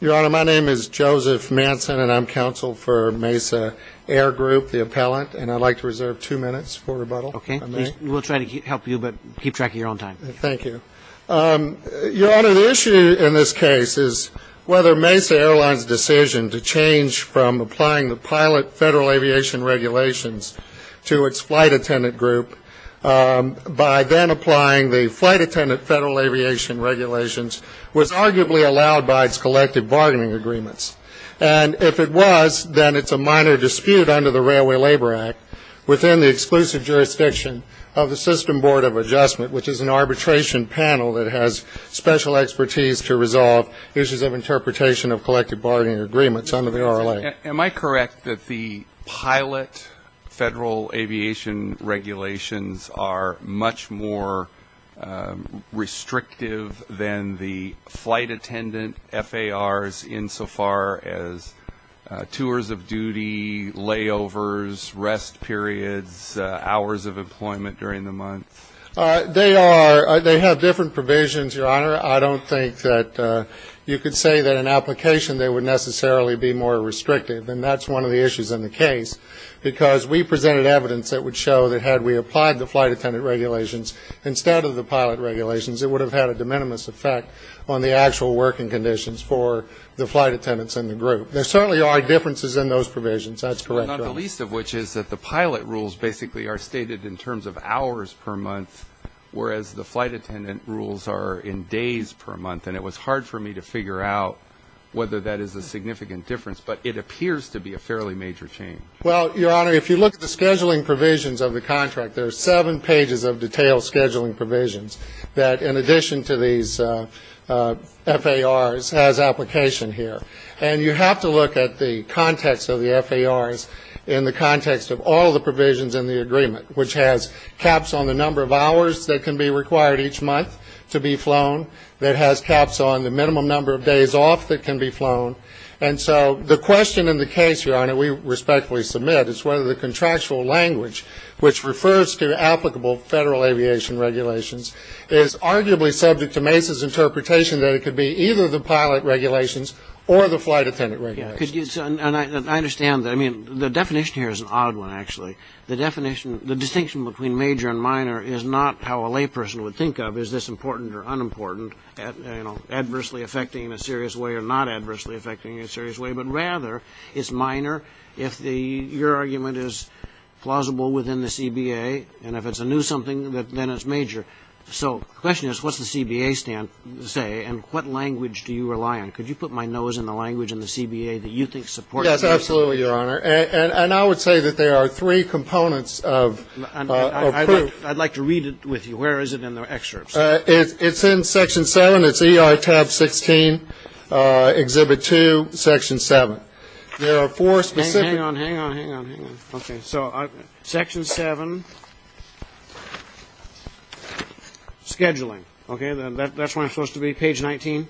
Your Honor, my name is Joseph Manson, and I'm counsel for Mesa Air Group, the appellant, and I'd like to reserve two minutes for rebuttal, if I may. Okay. We'll try to help you, but keep track of your own time. Thank you. Your Honor, the issue in this case is whether Mesa Airlines' decision to change from applying the Pilot Federal Aviation Regulations to its Flight Attendant Group by then applying the Flight Attendant Federal Aviation Regulations was arguably allowed by its collective bargaining agreements. And if it was, then it's a minor dispute under the Railway Labor Act within the exclusive jurisdiction of the System Board of Adjustment, which is an arbitration panel that has special expertise to resolve issues of interpretation of collective bargaining agreements under the RLA. Am I correct that the Pilot Federal Aviation Regulations are much more restrictive than the Flight Attendant FARs, insofar as tours of duty, layovers, rest periods, hours of employment during the month? They are. They have different provisions, Your Honor. I don't think that you could say that in application they would necessarily be more restrictive, and that's one of the issues in the case because we presented evidence that would show that had we applied the Flight Attendant Regulations instead of the Pilot Regulations, it would have had a de minimis effect on the actual working conditions for the flight attendants in the group. There certainly are differences in those provisions. That's correct. Well, not the least of which is that the Pilot rules basically are stated in terms of hours per month, whereas the Flight Attendant rules are in days per month, and it was hard for me to figure out whether that is a significant difference, but it appears to be a fairly major change. Well, Your Honor, if you look at the scheduling provisions of the contract, there are seven pages of detailed scheduling provisions that, in addition to these FARs, has application here. And you have to look at the context of the FARs in the context of all the provisions in the agreement, which has caps on the number of hours that can be required each month to be flown, that has caps on the minimum number of days off that can be flown. And so the question in the case, Your Honor, we respectfully submit, is whether the contractual language, which refers to applicable Federal aviation regulations, is arguably subject to Mesa's interpretation that it could be either the Pilot Regulations or the Flight Attendant Regulations. I understand that. I mean, the definition here is an odd one, actually. The distinction between major and minor is not how a layperson would think of, is this important or unimportant, adversely affecting in a serious way or not adversely affecting in a serious way, but rather it's minor if your argument is plausible within the CBA, and if it's a new something, then it's major. So the question is, what's the CBA say, and what language do you rely on? Could you put my nose in the language in the CBA that you think supports it? Yes, absolutely, Your Honor. And I would say that there are three components of proof. I'd like to read it with you. Where is it in the excerpts? It's in Section 7. It's ER Tab 16, Exhibit 2, Section 7. There are four specific – Hang on, hang on, hang on, hang on. Okay. So Section 7, scheduling. Okay. That's when it's supposed to be? Page 19?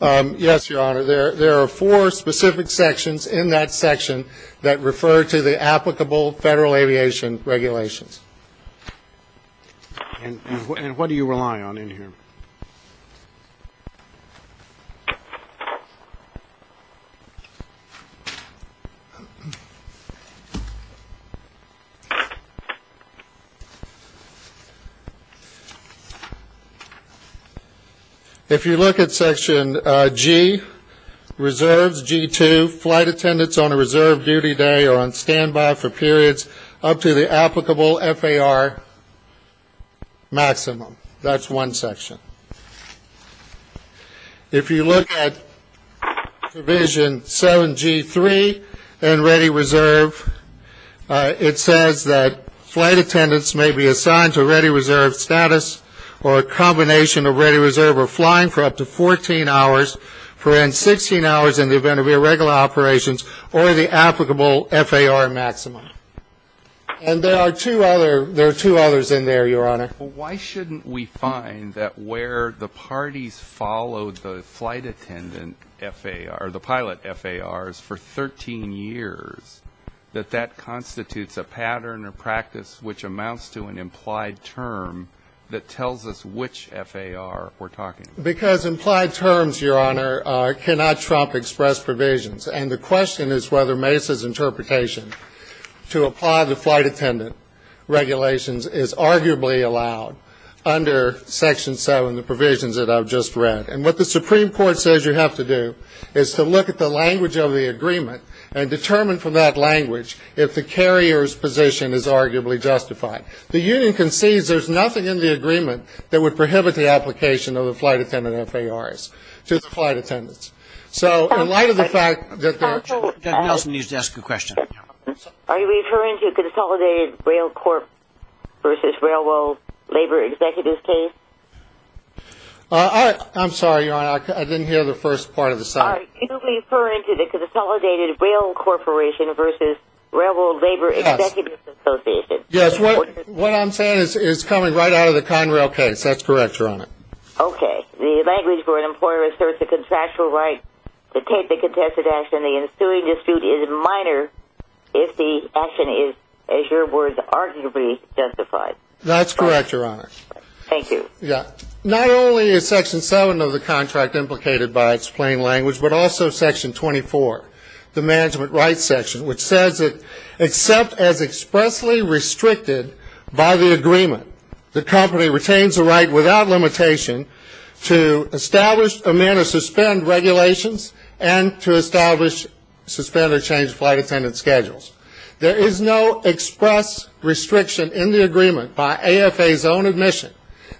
Yes, Your Honor. There are four specific sections in that section that refer to the applicable Federal aviation regulations. And what do you rely on in here? Thank you. If you look at Section G, Reserves G-2, flight attendants on a reserve duty day are on standby for periods up to the applicable FAR maximum. That's one section. If you look at Division 7G-3 and ready reserve, it says that flight attendants may be assigned to ready reserve status or a combination of ready reserve or flying for up to 14 hours, for in 16 hours in the event of irregular operations or the applicable FAR maximum. And there are two other – there are two others in there, Your Honor. Why shouldn't we find that where the parties follow the flight attendant FAR, the pilot FARs for 13 years, that that constitutes a pattern or practice which amounts to an implied term that tells us which FAR we're talking about? Because implied terms, Your Honor, cannot trump express provisions. And the question is whether Mesa's interpretation to apply the flight attendant regulations is arguably allowed under Section 7, the provisions that I've just read. And what the Supreme Court says you have to do is to look at the language of the agreement and determine from that language if the carrier's position is arguably justified. The union concedes there's nothing in the agreement that would prohibit the application of the flight attendant FARs to the flight attendants. So in light of the fact that there – Counsel – Counsel – versus Railroad Labor Executives case? I'm sorry, Your Honor. I didn't hear the first part of the sentence. All right. You're referring to the Consolidated Rail Corporation versus Railroad Labor Executives Association. Yes. What I'm saying is it's coming right out of the Conrail case. That's correct, Your Honor. Okay. The language for an employer asserts the contractual right to take the contested action. And the ensuing dispute is minor if the action is, as your words, arguably justified. That's correct, Your Honor. Thank you. Yeah. Not only is Section 7 of the contract implicated by its plain language, but also Section 24, the Management Rights Section, which says that except as expressly restricted by the agreement, the company retains the right without limitation to establish, amend, or suspend regulations and to establish, suspend, or change flight attendant schedules. There is no express restriction in the agreement by AFA's own admission.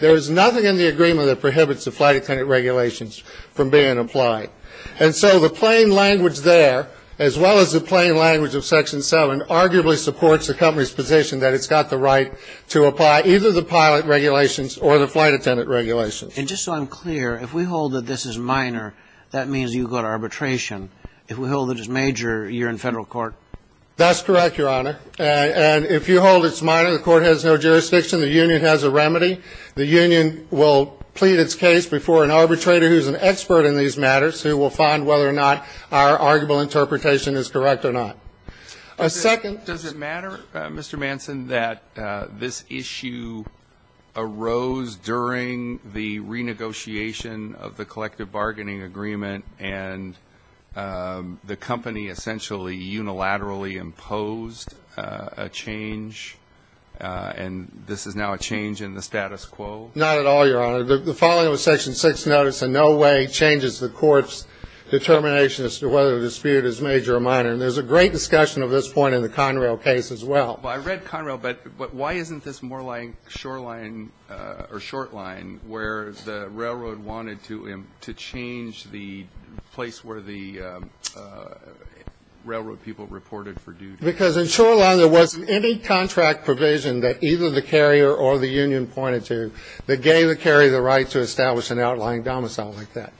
There is nothing in the agreement that prohibits the flight attendant regulations from being applied. And so the plain language there, as well as the plain language of Section 7, arguably supports the company's position that it's got the right to apply either the pilot regulations or the flight attendant regulations. And just so I'm clear, if we hold that this is minor, that means you've got arbitration. If we hold that it's major, you're in Federal court. That's correct, Your Honor. And if you hold it's minor, the court has no jurisdiction. The union has a remedy. The union will plead its case before an arbitrator who's an expert in these matters who will find whether or not our arguable interpretation is correct or not. A second. Does it matter, Mr. Manson, that this issue arose during the renegotiation of the collective bargaining agreement and the company essentially unilaterally imposed a change, and this is now a change in the status quo? Not at all, Your Honor. The following of a Section 6 notice in no way changes the court's determination as to whether the dispute is major or minor. And there's a great discussion of this point in the Conrail case as well. Well, I read Conrail, but why isn't this more like Shoreline or Shortline where the railroad wanted to change the place where the railroad people reported for duty? Because in Shoreline there wasn't any contract provision that either the carrier or the union pointed to that gave the carrier the right to establish an outlying domicile like that.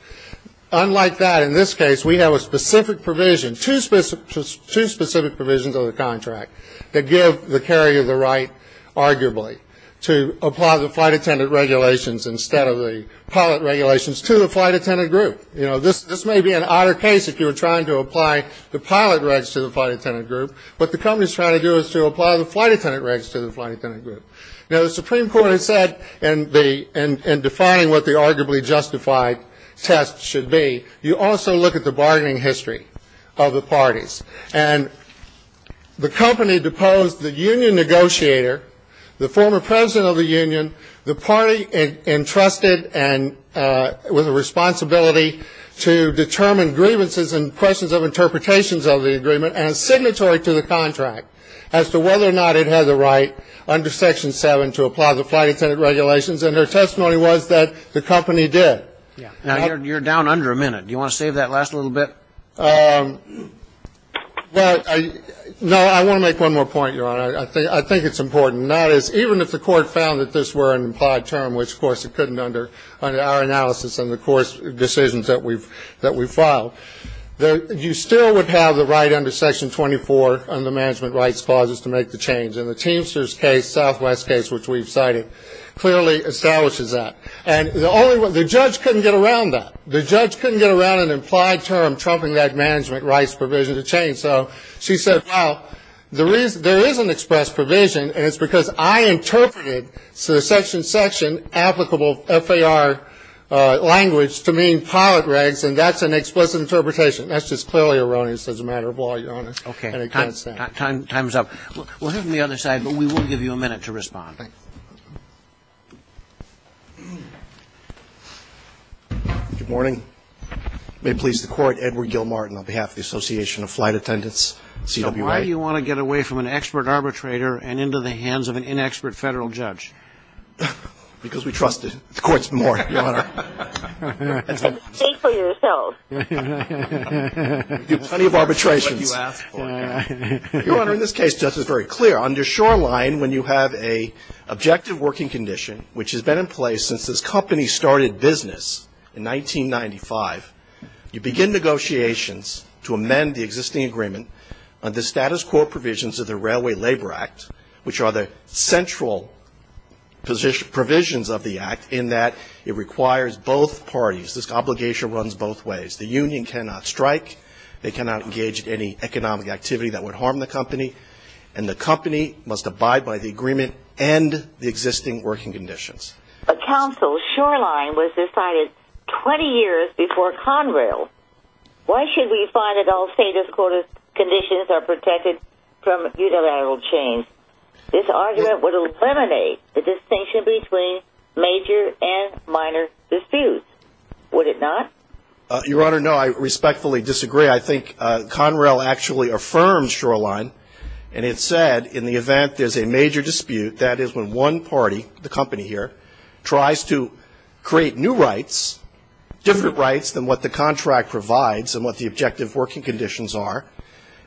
Unlike that, in this case we have a specific provision, two specific provisions of the contract that give the carrier the right arguably to apply the flight attendant regulations instead of the pilot regulations to the flight attendant group. You know, this may be an odder case if you were trying to apply the pilot regs to the flight attendant group. What the company is trying to do is to apply the flight attendant regs to the flight attendant group. Now, the Supreme Court has said in defining what the arguably justified test should be, you also look at the bargaining history of the parties. And the company deposed the union negotiator, the former president of the union, the party entrusted with a responsibility to determine grievances and questions of interpretations of the agreement as signatory to the contract as to whether or not it had the right under Section 7 to apply the flight attendant regulations. And her testimony was that the company did. Yeah. Now, you're down under a minute. Do you want to save that last little bit? Well, no. I want to make one more point, Your Honor. I think it's important. And that is even if the Court found that this were an implied term, which of course it couldn't under our analysis and the court's decisions that we've filed, you still would have the right under Section 24 on the management rights clauses to make the change. And the Teamsters case, Southwest case, which we've cited, clearly establishes that. And the judge couldn't get around that. The judge couldn't get around an implied term trumping that management rights provision to change. So she said, well, there is an express provision, and it's because I interpreted the section section applicable FAR language to mean pilot regs, and that's an explicit interpretation. That's just clearly erroneous as a matter of law, Your Honor. Okay. Time's up. We'll have the other side, but we will give you a minute to respond. Thanks. Good morning. May it please the Court, Edward Gilmartin on behalf of the Association of Flight Attendants, CWA. So why do you want to get away from an expert arbitrator and into the hands of an inexpert Federal judge? Because we trust the Court's more, Your Honor. Then stay for yourself. We do plenty of arbitrations. Your Honor, in this case, justice is very clear. Under Shoreline, when you have an objective working condition, which has been in place since this company started business in 1995, you begin negotiations to amend the existing agreement on the status quo provisions of the Railway Labor Act, which are the central provisions of the act in that it requires both parties. This obligation runs both ways. The union cannot strike. They cannot engage in any economic activity that would harm the company, and the company must abide by the agreement and the existing working conditions. But counsel, Shoreline was decided 20 years before Conrail. Why should we find that all status quo conditions are protected from unilateral change? This argument would eliminate the distinction between major and minor disputes, would it not? Your Honor, no, I respectfully disagree. I think Conrail actually affirms Shoreline, and it said in the event there's a major dispute, that is when one party, the company here, tries to create new rights, different rights than what the contract provides and what the objective working conditions are,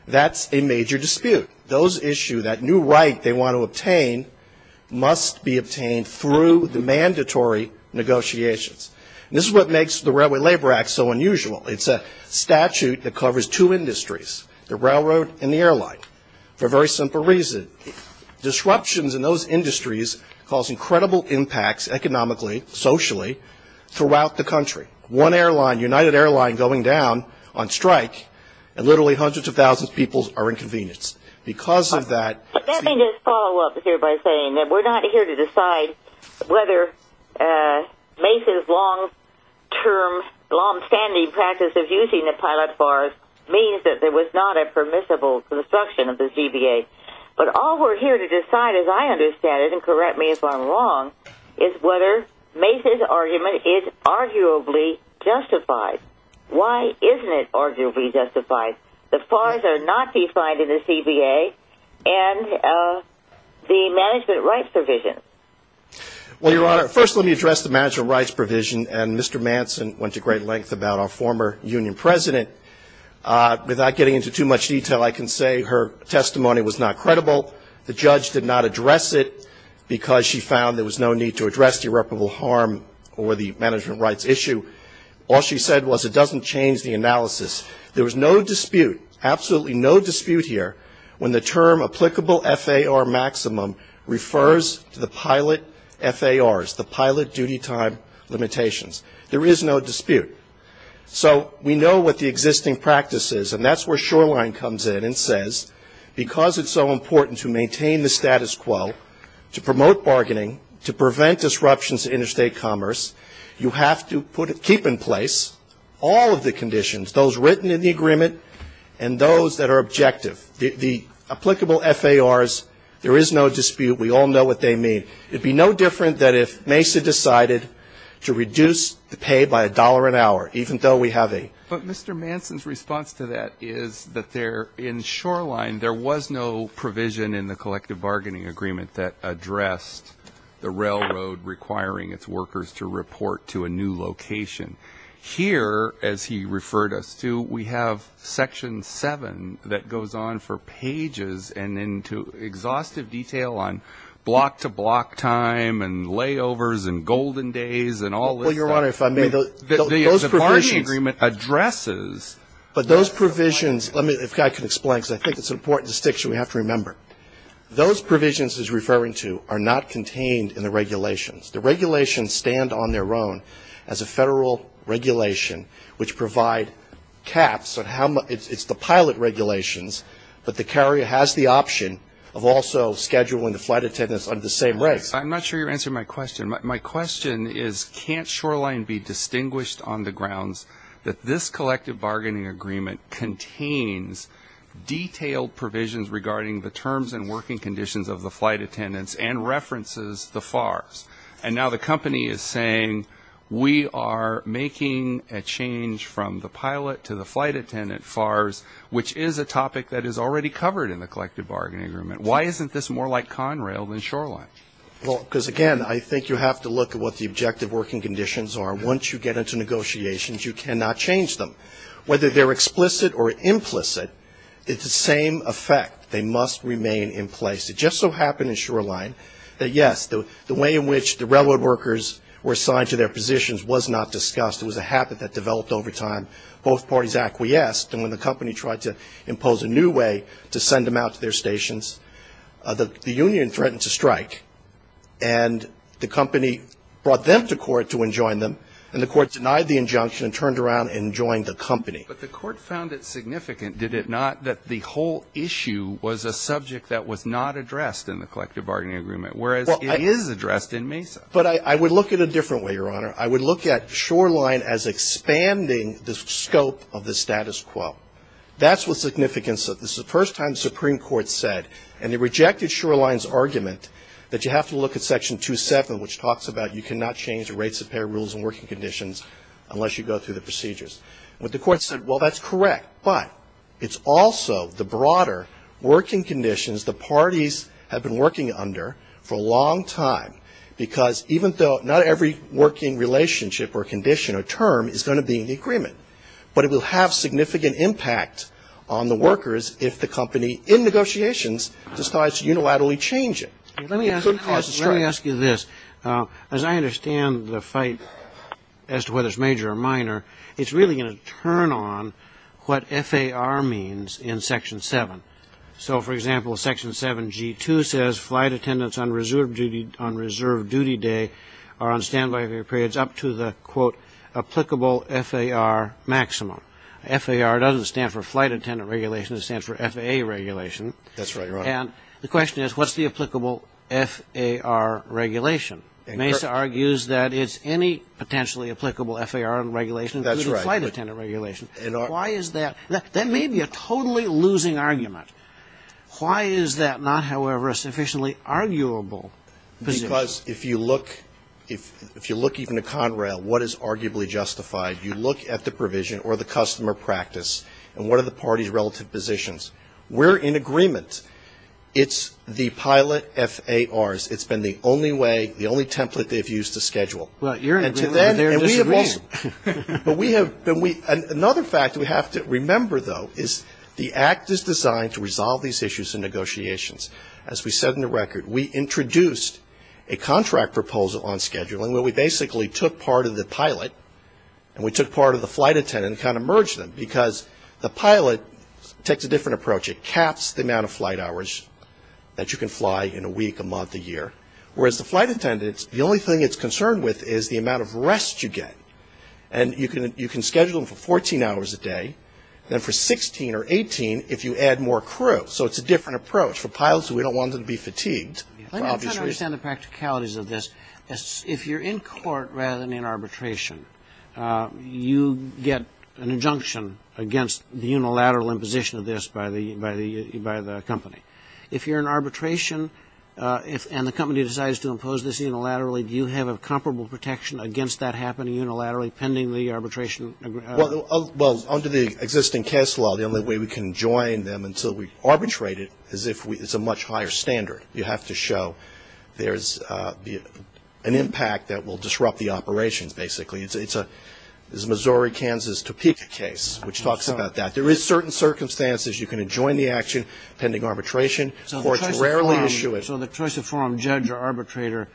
that's a major dispute. Those issues, that new right they want to obtain, must be obtained through the mandatory negotiations. This is what makes the Railway Labor Act so unusual. It's a statute that covers two industries, the railroad and the airline, for a very simple reason. Disruptions in those industries cause incredible impacts economically, socially, throughout the country. One airline, United Airline, going down on strike, and literally hundreds of thousands of people are inconvenienced. Because of that. Let me just follow up here by saying that we're not here to decide whether MACE's long-term, long-standing practice of using the pilot FARs means that there was not a permissible construction of the CBA. But all we're here to decide, as I understand it, and correct me if I'm wrong, is whether MACE's argument is arguably justified. Why isn't it arguably justified? The FARs are not defined in the CBA, and the management rights provision. Well, Your Honor, first let me address the management rights provision. And Mr. Manson went to great length about our former union president. Without getting into too much detail, I can say her testimony was not credible. The judge did not address it because she found there was no need to address the irreparable harm or the management rights issue. All she said was it doesn't change the analysis. There was no dispute, absolutely no dispute here, when the term applicable FAR maximum refers to the pilot FARs, the pilot duty time limitations. There is no dispute. So we know what the existing practice is, and that's where Shoreline comes in and says, because it's so important to maintain the status quo, to promote bargaining, to prevent disruptions to interstate commerce, you have to keep in place all of the conditions, those written in the agreement and those that are objective. The applicable FARs, there is no dispute. We all know what they mean. It would be no different than if MACE had decided to reduce the pay by a dollar an hour, even though we have a ---- But Mr. Manson's response to that is that there, in Shoreline, there was no provision in the collective bargaining agreement that addressed the railroad requiring its workers to report to a new location. Here, as he referred us to, we have Section 7 that goes on for pages and into exhaustive detail on block-to-block time and layovers and golden days and all this stuff. Well, Your Honor, if I may, those provisions ---- The bargaining agreement addresses ---- But those provisions, if I can explain, because I think it's an important distinction we have to remember, those provisions he's referring to are not contained in the regulations. The regulations stand on their own as a federal regulation, which provide caps on how much ---- It's the pilot regulations, but the carrier has the option of also scheduling the flight attendants under the same rates. And my question is, can't Shoreline be distinguished on the grounds that this collective bargaining agreement contains detailed provisions regarding the terms and working conditions of the flight attendants and references the FARs? And now the company is saying, we are making a change from the pilot to the flight attendant FARs, which is a topic that is already covered in the collective bargaining agreement. Why isn't this more like Conrail than Shoreline? Well, because, again, I think you have to look at what the objective working conditions are. Once you get into negotiations, you cannot change them. Whether they're explicit or implicit, it's the same effect. They must remain in place. It just so happened in Shoreline that, yes, the way in which the railroad workers were assigned to their positions was not discussed. It was a habit that developed over time. Both parties acquiesced, and when the company tried to impose a new way to send them out to their stations, the union threatened to strike. And the company brought them to court to enjoin them, and the court denied the injunction and turned around and joined the company. But the court found it significant, did it not, that the whole issue was a subject that was not addressed in the collective bargaining agreement, whereas it is addressed in Mesa? But I would look at it a different way, Your Honor. I would look at Shoreline as expanding the scope of the status quo. That's what's significant. This is the first time the Supreme Court said, and they rejected Shoreline's argument, that you have to look at Section 2.7, which talks about you cannot change the rates of pay, rules, and working conditions unless you go through the procedures. But the court said, well, that's correct. But it's also the broader working conditions the parties have been working under for a long time, because even though not every working relationship or condition or term is going to be in the agreement, but it will have significant impact on the workers if the company, in negotiations, decides to unilaterally change it. It couldn't cause a strike. Let me ask you this. As I understand the fight as to whether it's major or minor, it's really going to turn on what FAR means in Section 7. So, for example, Section 7G2 says flight attendants on reserve duty day are on standby for periods up to the, quote, applicable FAR maximum. FAR doesn't stand for flight attendant regulation. It stands for FAA regulation. That's right. And the question is, what's the applicable FAR regulation? Mesa argues that it's any potentially applicable FAR regulation, including flight attendant regulation. Why is that? That may be a totally losing argument. Why is that not, however, a sufficiently arguable position? Because if you look even to Conrail, what is arguably justified? You look at the provision or the customer practice, and what are the parties' relative positions? We're in agreement. It's the pilot FARs. It's been the only way, the only template they've used to schedule. Right. You're in agreement. They're disagreeing. But we have been. Another fact we have to remember, though, is the Act is designed to resolve these issues in negotiations. As we said in the record, we introduced a contract proposal on scheduling where we basically took part of the pilot and we took part of the flight attendant and kind of merged them because the pilot takes a different approach. It caps the amount of flight hours that you can fly in a week, a month, a year, whereas the flight attendant, the only thing it's concerned with is the amount of rest you get. And you can schedule them for 14 hours a day, then for 16 or 18 if you add more crew. So it's a different approach. For pilots, we don't want them to be fatigued. Let me try to understand the practicalities of this. If you're in court rather than in arbitration, you get an injunction against the unilateral imposition of this by the company. If you're in arbitration and the company decides to impose this unilaterally, do you have a comparable protection against that happening unilaterally pending the arbitration? Well, under the existing case law, the only way we can join them until we arbitrate it is if it's a much higher standard. You have to show there's an impact that will disrupt the operations, basically. It's a Missouri, Kansas, Topeka case, which talks about that. There is certain circumstances you can join the action pending arbitration. Courts rarely issue it. So the choice to form judge or arbitrator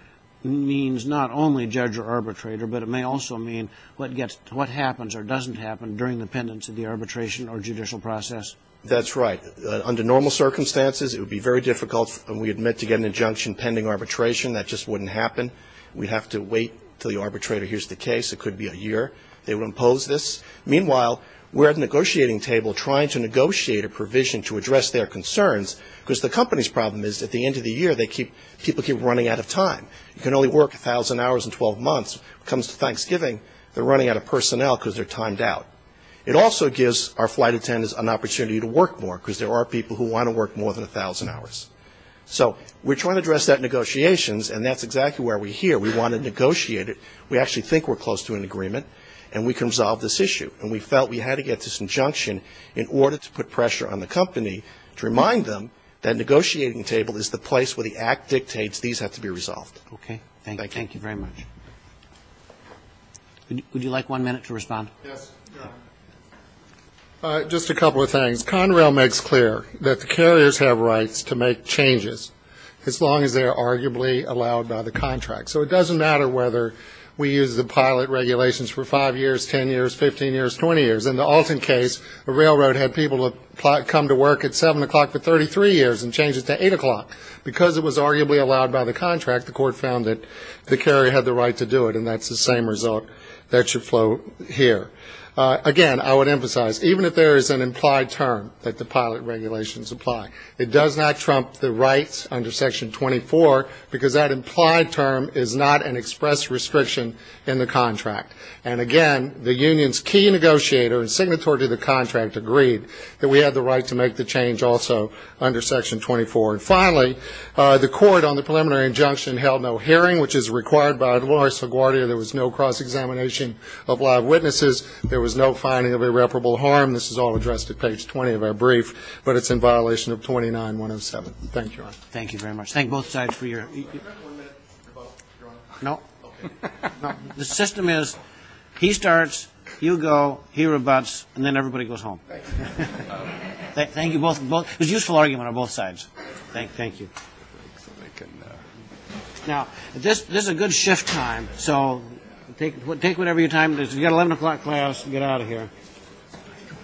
means not only judge or arbitrator, but it may also mean what happens or doesn't happen during the pendence of the arbitration or judicial process. That's right. Under normal circumstances, it would be very difficult, and we admit, to get an injunction pending arbitration. That just wouldn't happen. We'd have to wait until the arbitrator hears the case. It could be a year. They would impose this. Meanwhile, we're at the negotiating table trying to negotiate a provision to address their concerns because the company's problem is at the end of the year, people keep running out of time. You can only work 1,000 hours in 12 months. When it comes to Thanksgiving, they're running out of personnel because they're timed out. It also gives our flight attendants an opportunity to work more because there are people who want to work more than 1,000 hours. So we're trying to address that in negotiations, and that's exactly where we're here. We want to negotiate it. We actually think we're close to an agreement, and we can resolve this issue. And we felt we had to get this injunction in order to put pressure on the company to remind them that negotiating table is the place where the act dictates these have to be resolved. Okay. Thank you. Thank you very much. Would you like one minute to respond? Yes. Just a couple of things. Conrail makes clear that the carriers have rights to make changes as long as they are arguably allowed by the contract. So it doesn't matter whether we use the pilot regulations for 5 years, 10 years, 15 years, 20 years. In the Alton case, a railroad had people come to work at 7 o'clock for 33 years and change it to 8 o'clock. Because it was arguably allowed by the contract, the court found that the carrier had the right to do it, and that's the same result that should flow here. Again, I would emphasize, even if there is an implied term that the pilot regulations apply, it does not trump the rights under Section 24, because that implied term is not an express restriction in the contract. And, again, the union's key negotiator and signatory to the contract agreed that we had the right to make the change also under Section 24. And, finally, the court on the preliminary injunction held no hearing, which is required by law. So, Guardia, there was no cross-examination of live witnesses. There was no finding of irreparable harm. This is all addressed at page 20 of our brief, but it's in violation of 29-107. Thank you. Thank you very much. Thank both sides for your ---- Do you have one minute to rebut, Your Honor? No. Okay. No. The system is he starts, you go, he rebuts, and then everybody goes home. Thank you. It was a useful argument on both sides. Thank you. Now, this is a good shift time, so take whatever your time is. You've got an 11 o'clock class. Get out of here.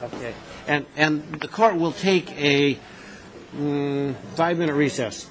Okay. And the court will take a five-minute recess.